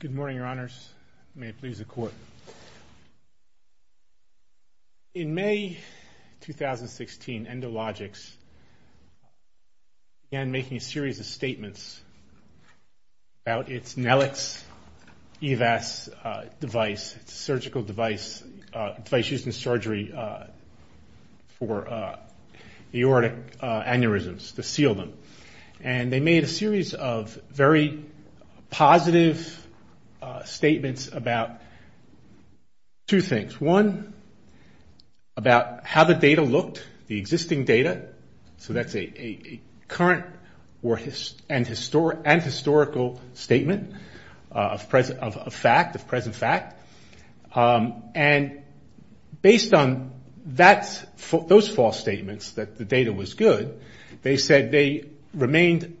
Good morning, Your Honors. May it please the Court. In May 2016, Endologix began making a series of statements about its Nelix EVAS device, its surgical device, device used in surgery for aortic aneurysms, to seal them. And they made a series of very positive statements about two things. One, about how the data looked, the existing data. So that's a current and historical statement of fact, of present fact. And based on those false statements that the data was good, they said they remained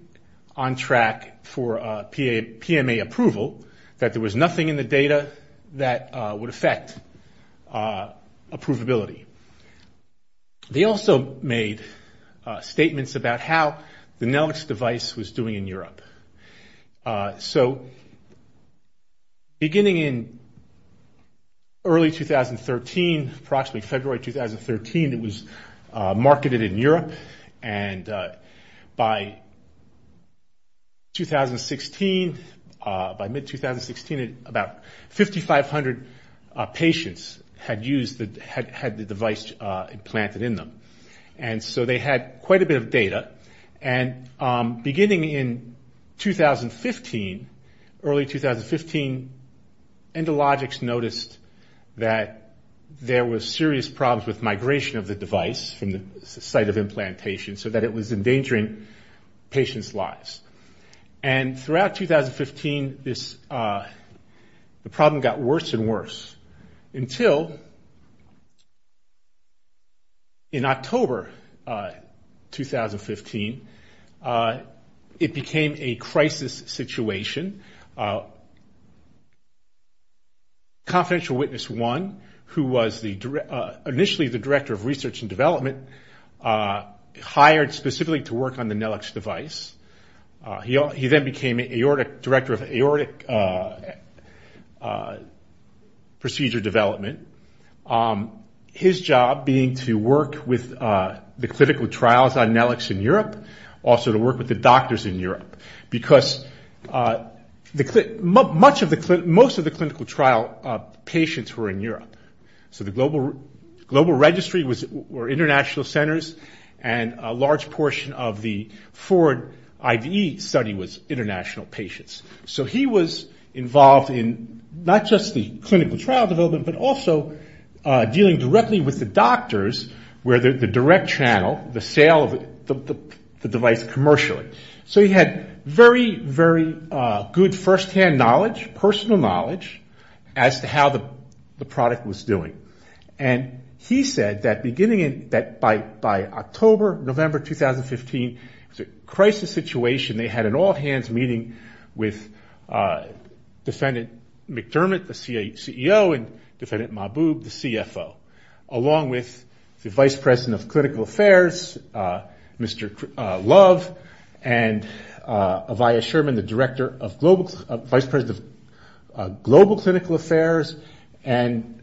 on track for PMA approval, that there was nothing in the data that would affect approvability. They also made statements about how the Nelix device was doing in Europe. So beginning in early 2013, approximately February 2013, it was marketed in Europe. And by 2016, by mid-2016, about 5,500 patients had the device implanted in them. And so they had quite a bit of data. And beginning in 2015, early 2015, Endologix noticed that there was serious problems with migration of the device from the site of implantation, so that it was endangering patients' lives. And throughout 2015, the problem got worse and worse, until in October 2015, it became a crisis situation. Confidential Witness One, who was initially the Director of Research and Development, hired specifically to work on the Nelix device. He then became Director of Aortic Procedure Development. His job being to work with the clinical trials on Nelix in Europe, also to work with the doctors in Europe, because most of the clinical trial patients were in Europe. So the global registry were international centers, and a large portion of the forward IDE study was international patients. So he was involved in not just the clinical trial development, but also dealing directly with the doctors, where the direct channel, the sale of the device So he had very, very good firsthand knowledge, personal knowledge, as to how the product was doing. And he said that beginning in, by October, November 2015, it was a crisis situation. They had an all-hands meeting with Defendant McDermott, the CEO, and Defendant Mahbub, the CFO, along with the Director of Global Clinical Affairs, and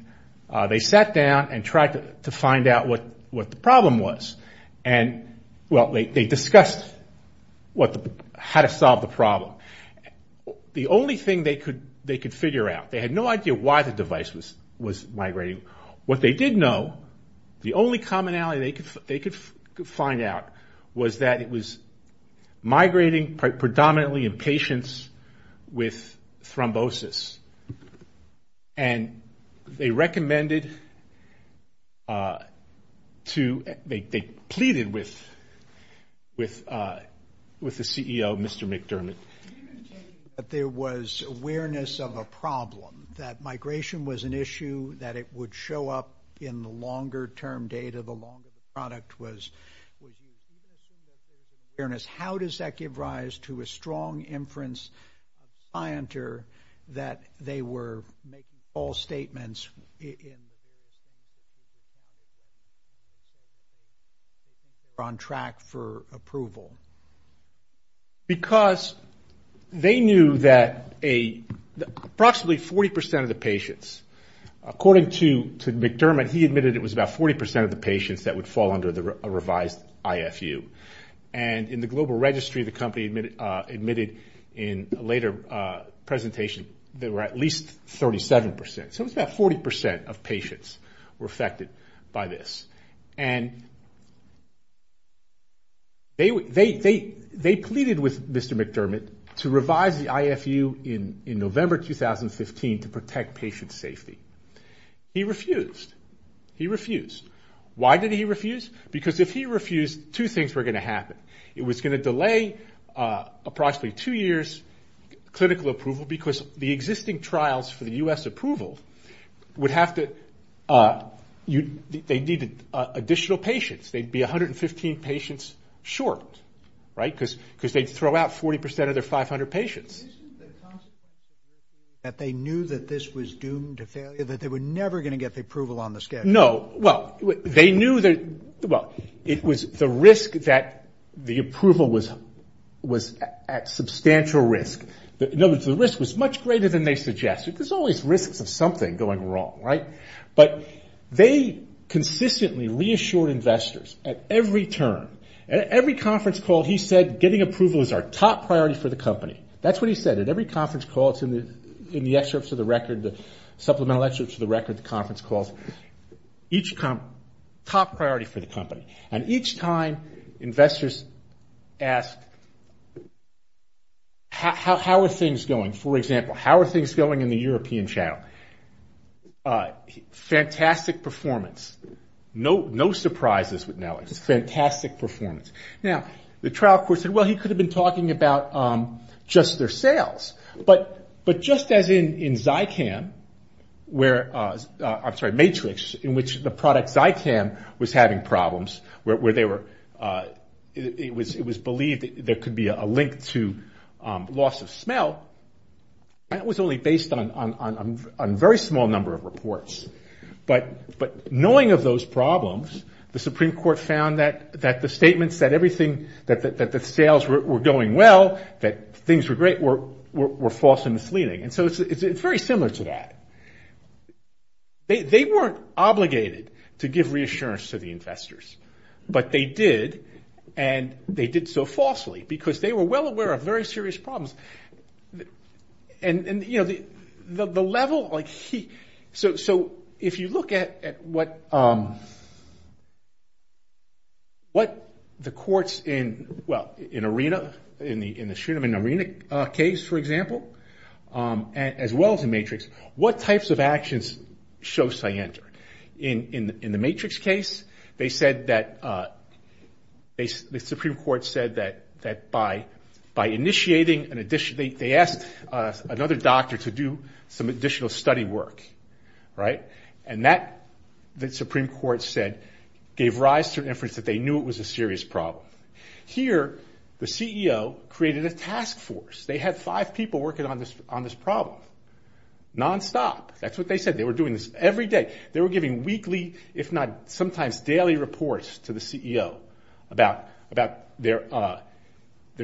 they sat down and tried to find out what the problem was. Well, they discussed how to solve the problem. The only thing they could figure out, they had no idea why the device was migrating. What they did know, the only commonality they could find out, was that it was migrating with the CEO, Mr. McDermott. But there was awareness of a problem, that migration was an issue, that it would show up in the longer-term data, the longer the product was used. How does that give rise to a strong inference that they were making false statements on track for approval? Because they knew that approximately 40% of the patients, according to McDermott, he admitted it was about 40% of the patients that would fall under the revised IFU. And in the global registry, the company admitted in a later presentation, there were at least 37%. So it was about 40% of patients were affected by this. And they pleaded with Mr. McDermott to revise the IFU in November 2015 to protect patient safety. He refused. He refused. Why did he refuse? Because if he refused, two things were going to happen. It was going to delay approximately two years, clinical approval, because the existing trials for the U.S. approval would have to, they needed additional patients. They'd be 115 patients short, right, because they'd throw out 40% of their 500 patients. Isn't the concept that they knew that this was doomed to failure, that they were never going to get the approval on the schedule? No, well, they knew that, well, it was the risk that the approval was at substantial risk. In other words, the risk was much greater than they suggested. There's always risks of something going wrong, right? But they consistently reassured investors at every turn. At every conference call, he said, getting approval is our top priority for the company. That's what he said. At every conference call, it's in the excerpts of the record, the supplemental excerpts of the record, the conference calls. Top priority for the company. And each time investors asked, how are things going? For example, how are things going in the European channel? Fantastic performance. No surprises with Nellie. Fantastic performance. Now, the trial court said, well, he could have been talking about just their sales. But just as in Zycam, where, I'm sorry, Matrix, in which the product Zycam was having problems, where they were, it was believed there could be a link to loss of smell, that was only based on a very small number of reports. But knowing of those problems, the Supreme Court found that the statements that everything, that the sales were going well, that things were great, were false and misleading. And so it's very similar to that. They weren't obligated to give reassurance to the investors. But they did, and they did so falsely, because they were well aware of very serious problems. And, you know, the level, like he, so if you look at what the courts in, well, in ARENA, in the Srinivan ARENA case, for example, as well as in Matrix, what types of actions show scienter? In the Matrix case, they said that, the Supreme Court said that by initiating an addition, they asked another doctor to do some additional study work, right? And that, the Supreme Court said, gave rise to an inference that they knew it was a serious problem. Here, the CEO created a task force. They had five people working on this problem, nonstop. That's what they said. They were doing this every day. They were giving weekly, if not sometimes daily reports to the CEO about their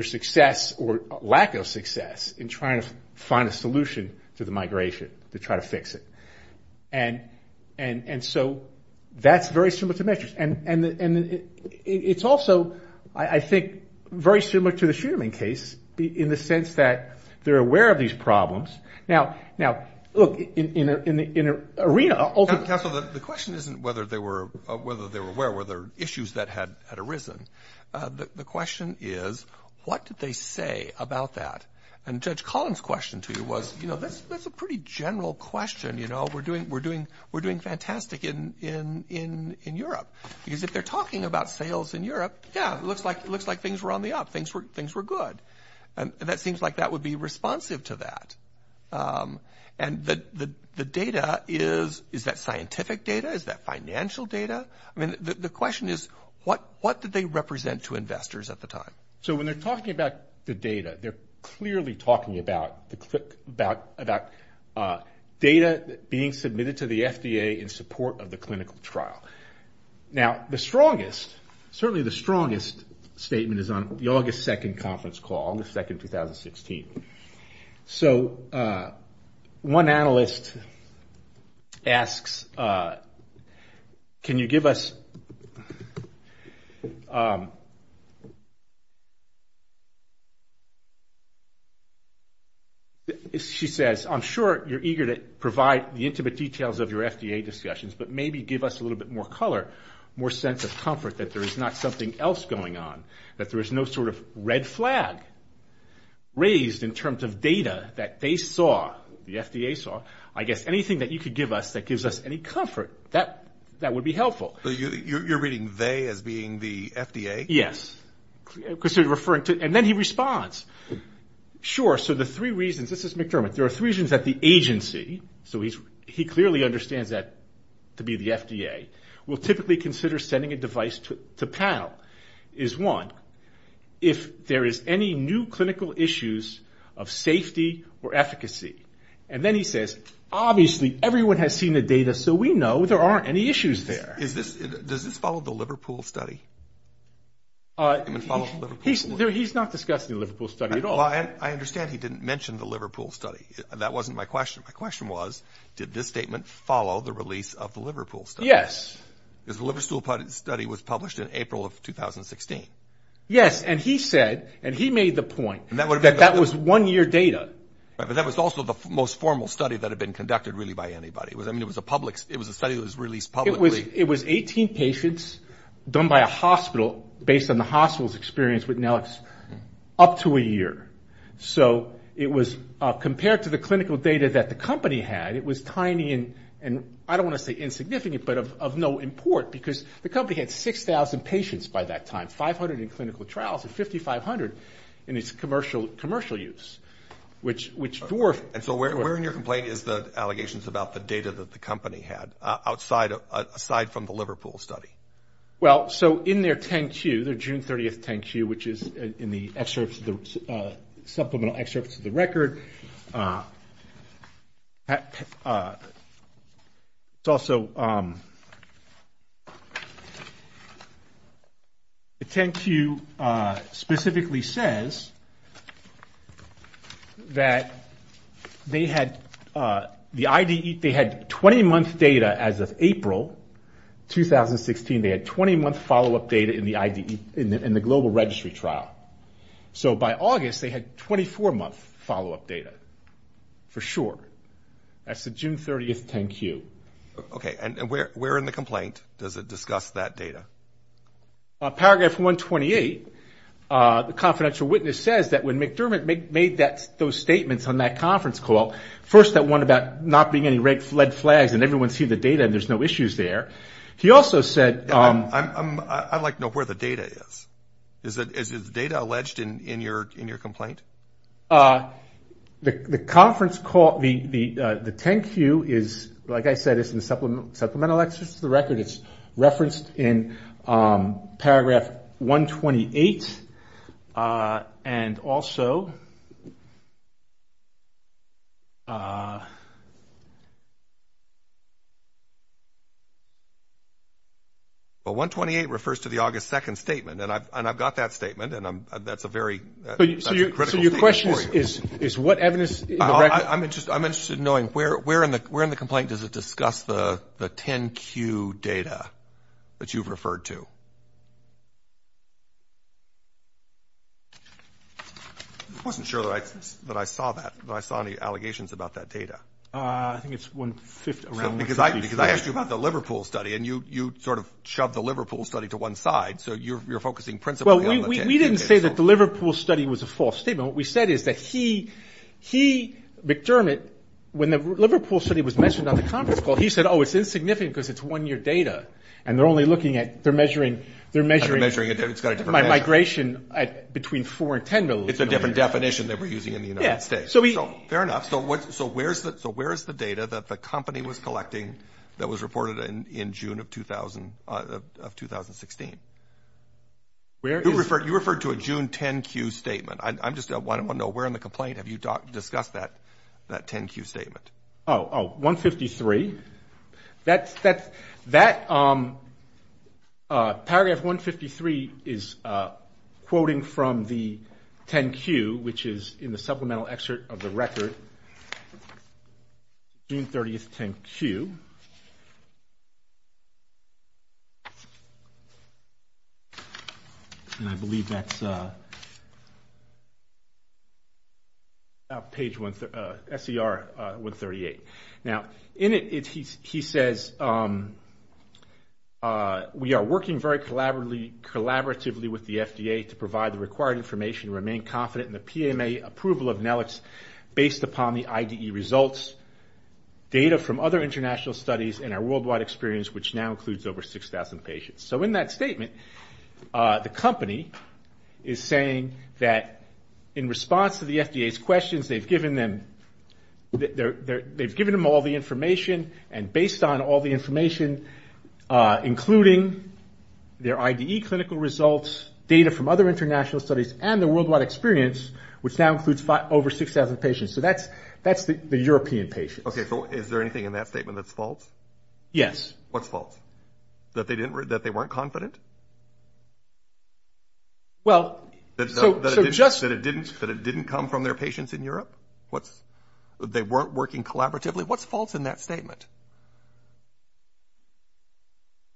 success or lack of success in trying to find a solution to the migration, to try to fix it. And so that's very similar to Matrix. And it's also, I think, very similar to the Srinivan case in the sense that they're aware of these problems. Now, look, in ARENA, ultimately. Counsel, the question isn't whether they were aware, whether issues that had arisen. The question is, what did they say about that? And Judge Collins' question to you was, you know, that's a pretty general question. You know, we're doing fantastic in Europe. Because if they're talking about sales in Europe, yeah, it looks like things were on the up. Things were good. And that seems like that would be responsive to that. And the data is, is that scientific data? Is that financial data? I mean, the question is, what did they represent to investors at the time? So when they're talking about the data, they're clearly talking about data being submitted to the FDA in support of the clinical trial. Now, the strongest, certainly the strongest statement is on the August 2nd conference call, August 2nd, 2016. So one analyst asks, can you give us, she says, I'm sure you're eager to provide the intimate details of your FDA discussions, but maybe give us a little bit more color, more sense of comfort that there is not something else going on, that there is no sort of red flag raised in terms of data that they saw, the FDA saw. I guess anything that you could give us that gives us any comfort, that would be helpful. So you're reading they as being the FDA? Yes. And then he responds. Sure, so the three reasons, this is McDermott, there are three reasons that the agency, so he clearly understands that to be the FDA, will typically consider sending a device to PAL, is one, if there is any new clinical issues of safety or efficacy. And then he says, obviously everyone has seen the data, so we know there aren't any issues there. Does this follow the Liverpool study? Well, I understand he didn't mention the Liverpool study. That wasn't my question. My question was, did this statement follow the release of the Liverpool study? Yes. Because the Liverpool study was published in April of 2016. Yes, and he said, and he made the point that that was one-year data. But that was also the most formal study that had been conducted really by anybody. I mean, it was a study that was released publicly. It was 18 patients done by a hospital based on the hospital's experience with Nellix up to a year. So it was, compared to the clinical data that the company had, it was tiny and, I don't want to say insignificant, but of no import because the company had 6,000 patients by that time, 500 in clinical trials, and 5,500 in its commercial use, which dwarfed. And so where in your complaint is the allegations about the data that the company had, aside from the Liverpool study? Well, so in their 10-Q, their June 30th 10-Q, which is in the supplemental excerpts of the record, it's also, the 10-Q specifically says that they had the IDE, they had 20-month data as of April 2016. They had 20-month follow-up data in the IDE, in the global registry trial. So by August, they had 24-month follow-up data, for sure. That's the June 30th 10-Q. Okay, and where in the complaint does it discuss that data? Paragraph 128, the confidential witness says that when McDermott made those statements on that conference call, first that one about not being any red flags and everyone see the data and there's no issues there. He also said- I'd like to know where the data is. Is the data alleged in your complaint? The conference call, the 10-Q is, like I said, it's in the supplemental excerpts of the record. It's referenced in paragraph 128, and also- Well, 128 refers to the August 2nd statement, and I've got that statement, and that's a very critical statement for you. So your question is what evidence in the record- I'm interested in knowing where in the complaint does it discuss the 10-Q data that you've referred to? I wasn't sure that I saw that, that I saw any allegations about that data. I think it's one-fifth around- Because I asked you about the Liverpool study, and you sort of shoved the Liverpool study to one side, so you're focusing principally on the 10-Q data. Well, we didn't say that the Liverpool study was a false statement. What we said is that he, McDermott, when the Liverpool study was mentioned on the conference call, he said, oh, it's insignificant because it's one-year data, and they're only looking at- They're measuring- They're measuring it. It's got a different- Migration between 4 and 10 million. It's a different definition than we're using in the United States. Fair enough. So where is the data that the company was collecting that was reported in June of 2016? You referred to a June 10-Q statement. I just want to know where in the complaint have you discussed that 10-Q statement? Oh, oh, 153. That- Paragraph 153 is quoting from the 10-Q, which is in the supplemental excerpt of the record, June 30, 10-Q. And I believe that's page 138. Now, in it, he says, we are working very collaboratively with the FDA to provide the required information and remain confident in the PMA approval of Nellix based upon the IDE results. Data from other international studies and our worldwide experience, which now includes over 6,000 patients. So in that statement, the company is saying that in response to the FDA's questions, they've given them all the information, and based on all the information, including their IDE clinical results, data from other international studies, and the worldwide experience, which now includes over 6,000 patients. So that's the European patients. Okay. So is there anything in that statement that's false? Yes. What's false? That they weren't confident? Well, so just- That it didn't come from their patients in Europe? They weren't working collaboratively? What's false in that statement?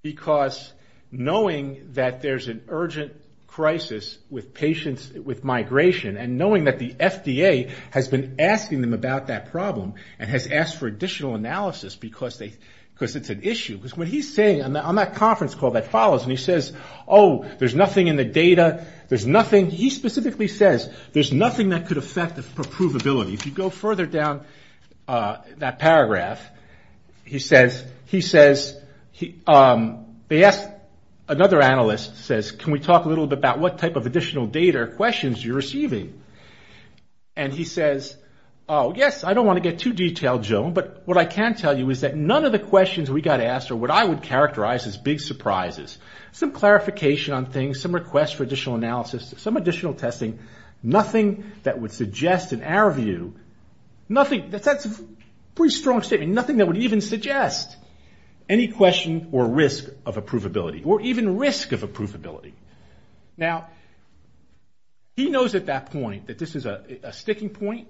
Because knowing that there's an urgent crisis with patients with migration, and knowing that the FDA has been asking them about that problem and has asked for additional analysis because it's an issue, because what he's saying on that conference call that follows, and he says, oh, there's nothing in the data, there's nothing, he specifically says, there's nothing that could affect the approvability. If you go further down that paragraph, he says, he says, they asked, another analyst says, can we talk a little bit about what type of additional data questions you're receiving? And he says, oh, yes, I don't want to get too detailed, Joan, but what I can tell you is that none of the questions we got asked are what I would characterize as big surprises. Some clarification on things, some requests for additional analysis, some additional testing, nothing that would suggest, in our view, nothing, that's a pretty strong statement, and nothing that would even suggest any question or risk of approvability, or even risk of approvability. Now, he knows at that point that this is a sticking point.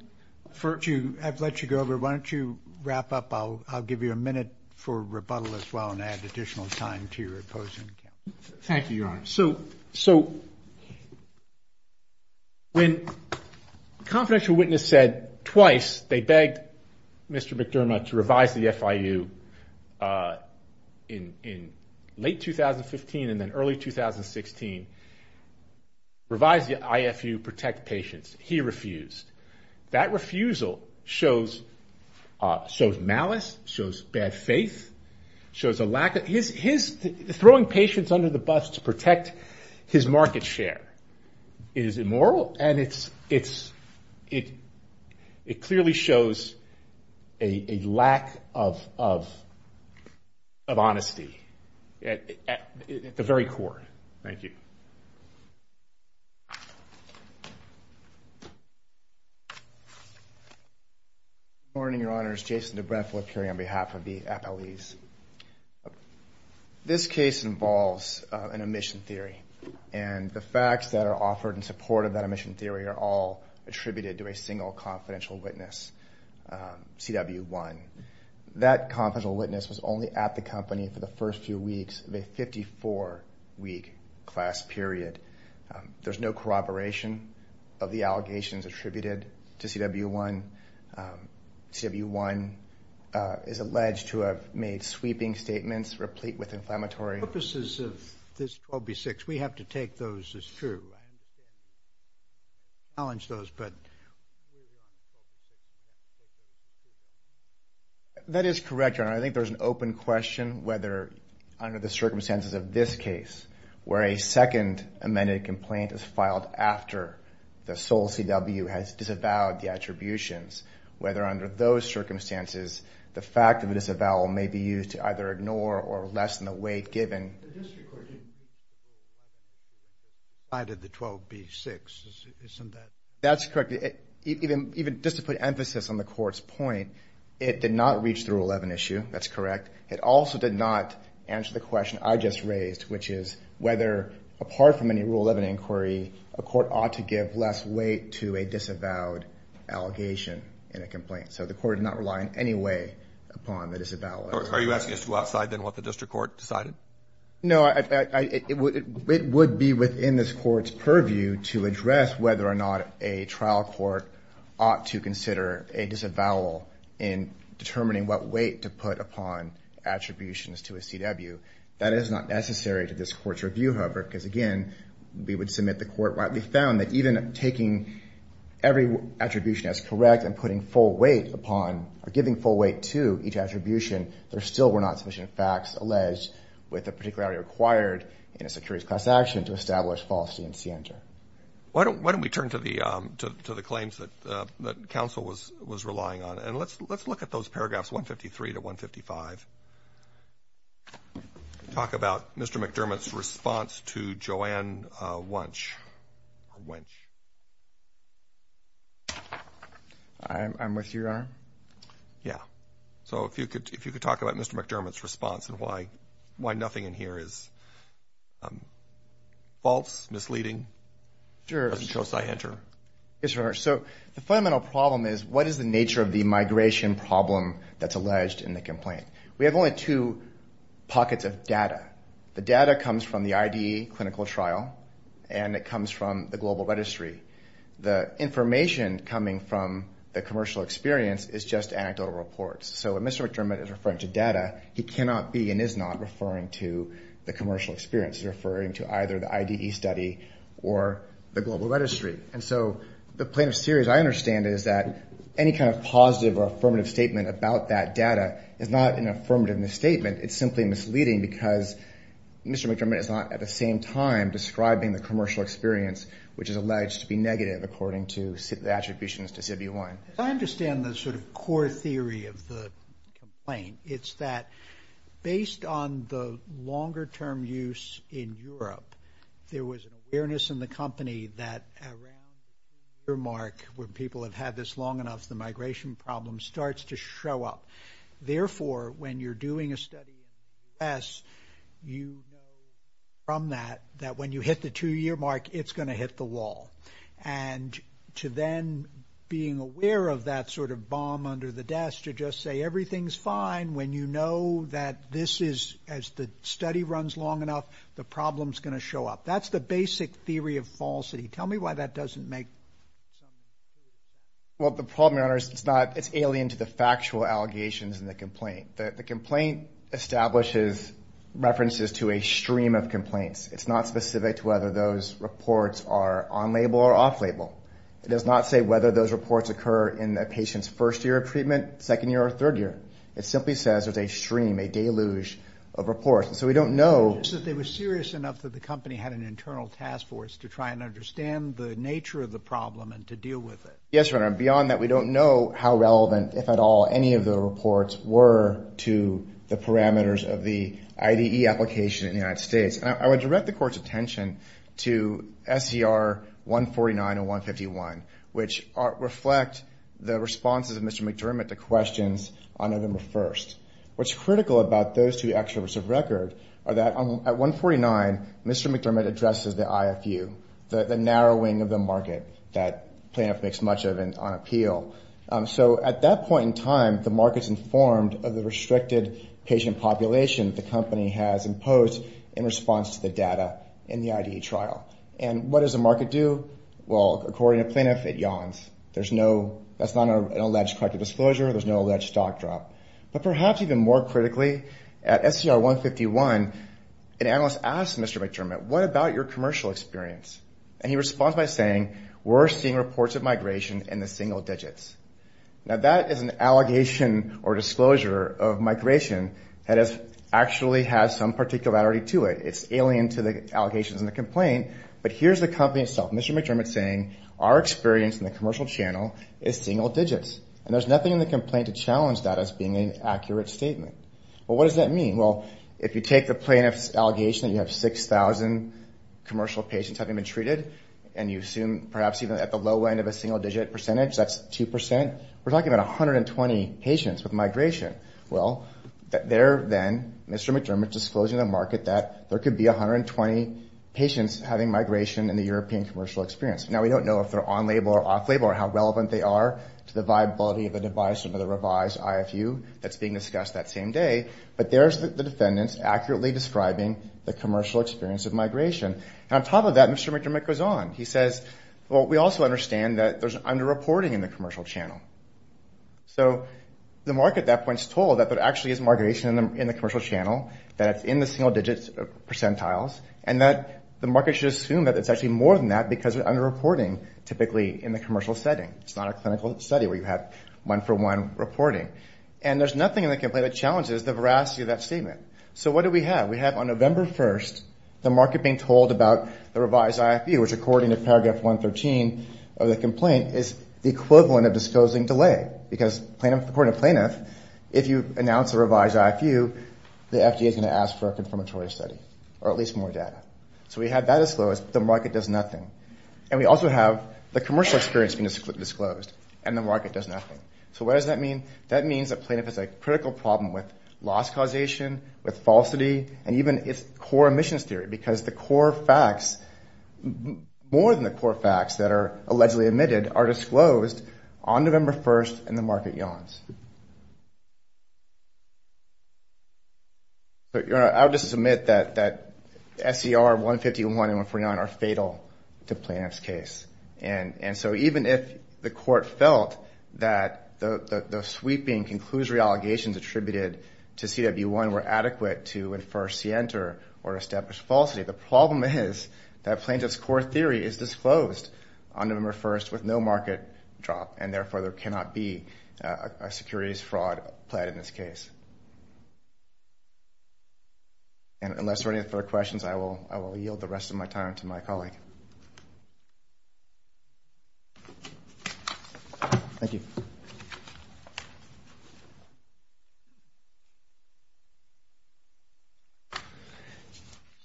I've let you go, but why don't you wrap up. I'll give you a minute for rebuttal as well and add additional time to your opposing. Thank you, Your Honor. So when a confidential witness said twice they begged Mr. McDermott to revise the FIU in late 2015 and then early 2016, revise the IFU, protect patients, he refused. That refusal shows malice, shows bad faith, shows a lack of, his throwing patients under the bus to protect his market share is immoral, and it clearly shows a lack of honesty at the very core. Thank you. Good morning, Your Honors. Jason DeBrethe will appear on behalf of the appellees. This case involves an omission theory, and the facts that are offered in support of that omission theory are all attributed to a single confidential witness, CW1. That confidential witness was only at the company for the first few weeks of a 54-week class period. There's no corroboration of the allegations attributed to CW1. CW1 is alleged to have made sweeping statements replete with inflammatory. The purposes of this 12B6, we have to take those as true. I challenge those, but. That is correct, Your Honor. I think there's an open question whether under the circumstances of this case, where a second amended complaint is filed after the sole CW has disavowed the attributions, whether under those circumstances, the fact of a disavowal may be used to either ignore or lessen the weight given. The district court didn't decide the 12B6. Isn't that? That's correct. Even just to put emphasis on the court's point, it did not reach the Rule 11 issue. That's correct. It also did not answer the question I just raised, which is whether apart from any Rule 11 inquiry, a court ought to give less weight to a disavowed allegation in a complaint. So the court did not rely in any way upon the disavowal. Are you asking us to go outside then what the district court decided? No. It would be within this court's purview to address whether or not a trial court ought to consider a disavowal in determining what weight to put upon attributions to a CW. That is not necessary to this court's review, however, because, again, we would submit the court rightly found that even taking every attribution as correct and putting full weight upon or giving full weight to each attribution, there still were not sufficient facts alleged with the particularity required in a securities class action to establish falsity in CNTR. Why don't we turn to the claims that counsel was relying on, and let's look at those paragraphs 153 to 155. Talk about Mr. McDermott's response to Joanne Wench. I'm with you, Your Honor. Yeah. So if you could talk about Mr. McDermott's response and why nothing in here is false, misleading. Sure. Doesn't show scienter. Yes, Your Honor. So the fundamental problem is what is the nature of the migration problem that's alleged in the complaint? We have only two pockets of data. The data comes from the IDE clinical trial, and it comes from the global registry. The information coming from the commercial experience is just anecdotal reports. So when Mr. McDermott is referring to data, he cannot be and is not referring to the commercial experience. He's referring to either the IDE study or the global registry. And so the plaintiff's theory, as I understand it, is that any kind of positive or affirmative statement about that data is not an affirmative misstatement. It's simply misleading because Mr. McDermott is not at the same time describing the commercial experience, which is alleged to be negative according to the attributions to CB1. As I understand the sort of core theory of the complaint, it's that based on the longer-term use in Europe, there was an awareness in the company that around the year mark, when people have had this long enough, the migration problem starts to show up. Therefore, when you're doing a study in the U.S., you know from that that when you hit the two-year mark, it's going to hit the wall. And to then being aware of that sort of bomb under the desk to just say everything's fine, when you know that this is, as the study runs long enough, the problem's going to show up. That's the basic theory of falsity. Tell me why that doesn't make sense. Well, the problem, Your Honor, is it's alien to the factual allegations in the complaint. The complaint establishes references to a stream of complaints. It's not specific to whether those reports are on-label or off-label. It does not say whether those reports occur in a patient's first year of treatment, second year, or third year. It simply says there's a stream, a deluge of reports. So we don't know. It's just that they were serious enough that the company had an internal task force to try and understand the nature of the problem and to deal with it. Yes, Your Honor. Beyond that, we don't know how relevant, if at all, any of the reports were to the parameters of the IDE application in the United States. And I would direct the Court's attention to SCR 149 and 151, which reflect the responses of Mr. McDermott to questions on November 1st. What's critical about those two extroverts of record are that at 149, Mr. McDermott addresses the IFU, the narrowing of the market that Plaintiff makes much of on appeal. So at that point in time, the market's informed of the restricted patient population the company has imposed in response to the data in the IDE trial. And what does the market do? Well, according to Plaintiff, it yawns. That's not an alleged corrective disclosure. There's no alleged stock drop. But perhaps even more critically, at SCR 151, an analyst asks Mr. McDermott, what about your commercial experience? And he responds by saying, we're seeing reports of migration in the single digits. Now, that is an allegation or disclosure of migration that actually has some particularity to it. It's alien to the allegations in the complaint. But here's the company itself, Mr. McDermott saying, our experience in the commercial channel is single digits. And there's nothing in the complaint to challenge that as being an accurate statement. Well, what does that mean? Well, if you take the Plaintiff's allegation that you have 6,000 commercial patients having been treated, and you assume perhaps even at the low end of a single-digit percentage, that's 2%, we're talking about 120 patients with migration. Well, there then, Mr. McDermott disclosing to the market that there could be 120 patients having migration in the European commercial experience. Now, we don't know if they're on-label or off-label or how relevant they are to the viability of a device under the revised IFU that's being discussed that same day. But there's the defendants accurately describing the commercial experience of migration. And on top of that, Mr. McDermott goes on. He says, well, we also understand that there's underreporting in the commercial channel. So the market at that point is told that there actually is migration in the commercial channel, that it's in the single-digit percentiles, and that the market should assume that it's actually more than that because of underreporting typically in the commercial setting. It's not a clinical study where you have one-for-one reporting. And there's nothing in the complaint that challenges the veracity of that statement. So what do we have? We have on November 1st the market being told about the revised IFU, which according to paragraph 113 of the complaint is the equivalent of disclosing delay, because according to Plaintiff, if you announce a revised IFU, the FDA is going to ask for a confirmatory study or at least more data. So we have that disclosed, but the market does nothing. And we also have the commercial experience being disclosed, and the market does nothing. So what does that mean? That means that Plaintiff has a critical problem with loss causation, with falsity, and even its core emissions theory because the core facts, more than the core facts that are allegedly omitted, are disclosed on November 1st, and the market yawns. I'll just submit that SCR 151 and 159 are fatal to Plaintiff's case. And so even if the court felt that the sweeping conclusory allegations attributed to CW1 were adequate to infer scienter or establish falsity, the problem is that Plaintiff's core theory is disclosed on November 1st with no market drop, and therefore there cannot be a securities fraud plead in this case. And unless there are any further questions, I will yield the rest of my time to my colleague. Thank you.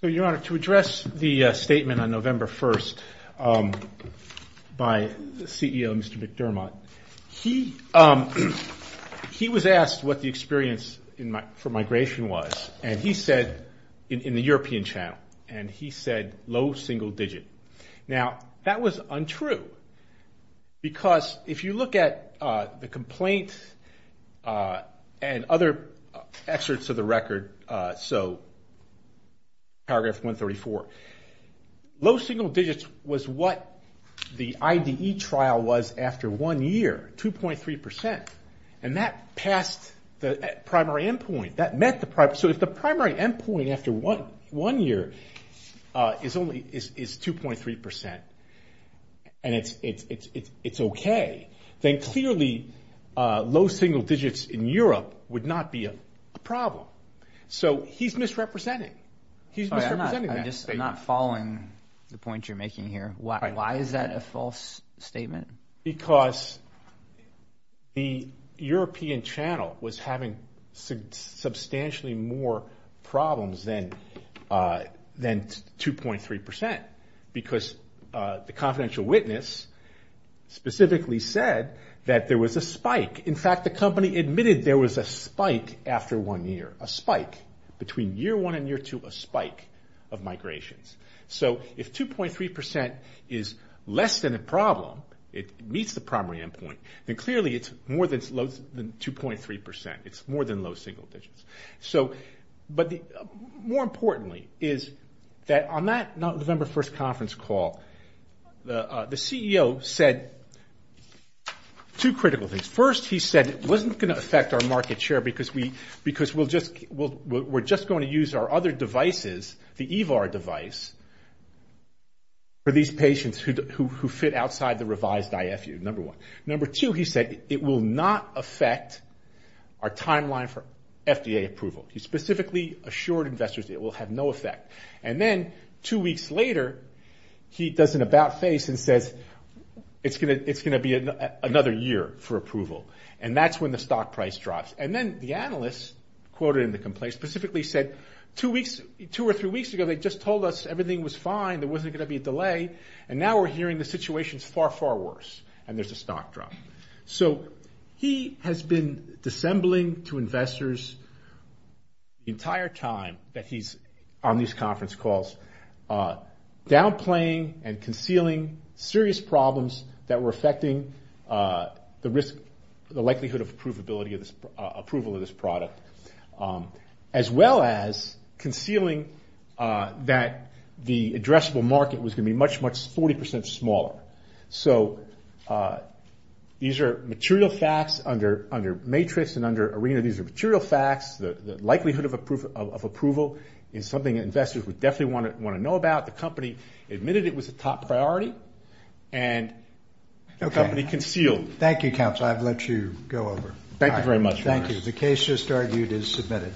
So, Your Honor, to address the statement on November 1st by the CEO, Mr. McDermott, he was asked what the experience for migration was, and he said, in the European channel, and he said, low single digit. Now, that was untrue because if you look at the data, the complaint and other excerpts of the record, so paragraph 134, low single digits was what the IDE trial was after one year, 2.3%. And that passed the primary endpoint. So if the primary endpoint after one year is 2.3% and it's okay, then clearly low single digits in Europe would not be a problem. So he's misrepresenting. He's misrepresenting that statement. I'm just not following the point you're making here. Why is that a false statement? Because the European channel was having substantially more problems than 2.3% because the confidential witness specifically said that there was a spike. In fact, the company admitted there was a spike after one year, a spike between year one and year two, a spike of migrations. So if 2.3% is less than a problem, it meets the primary endpoint, then clearly it's more than 2.3%. It's more than low single digits. But more importantly is that on that November 1st conference call, the CEO said two critical things. First, he said it wasn't going to affect our market share because we're just going to use our other devices, the EVAR device, for these patients who fit outside the revised IFU, number one. Number two, he said it will not affect our timeline for FDA approval. He specifically assured investors it will have no effect. And then two weeks later, he does an about face and says, it's going to be another year for approval. And that's when the stock price drops. And then the analysts quoted in the complaint specifically said, two or three weeks ago they just told us everything was fine, there wasn't going to be a delay, and now we're hearing the situation's far, far worse, and there's a stock drop. So he has been dissembling to investors the entire time that he's on these conference calls, downplaying and concealing serious problems that were affecting the likelihood of approval of this product, as well as concealing that the addressable market was going to be much, much 40% smaller. So these are material facts under Matrix and under ARENA. These are material facts. The likelihood of approval is something investors would definitely want to know about. The company admitted it was a top priority, and the company concealed it. Thank you, Counsel. I've let you go over. Thank you very much. Thank you. The case just argued is submitted.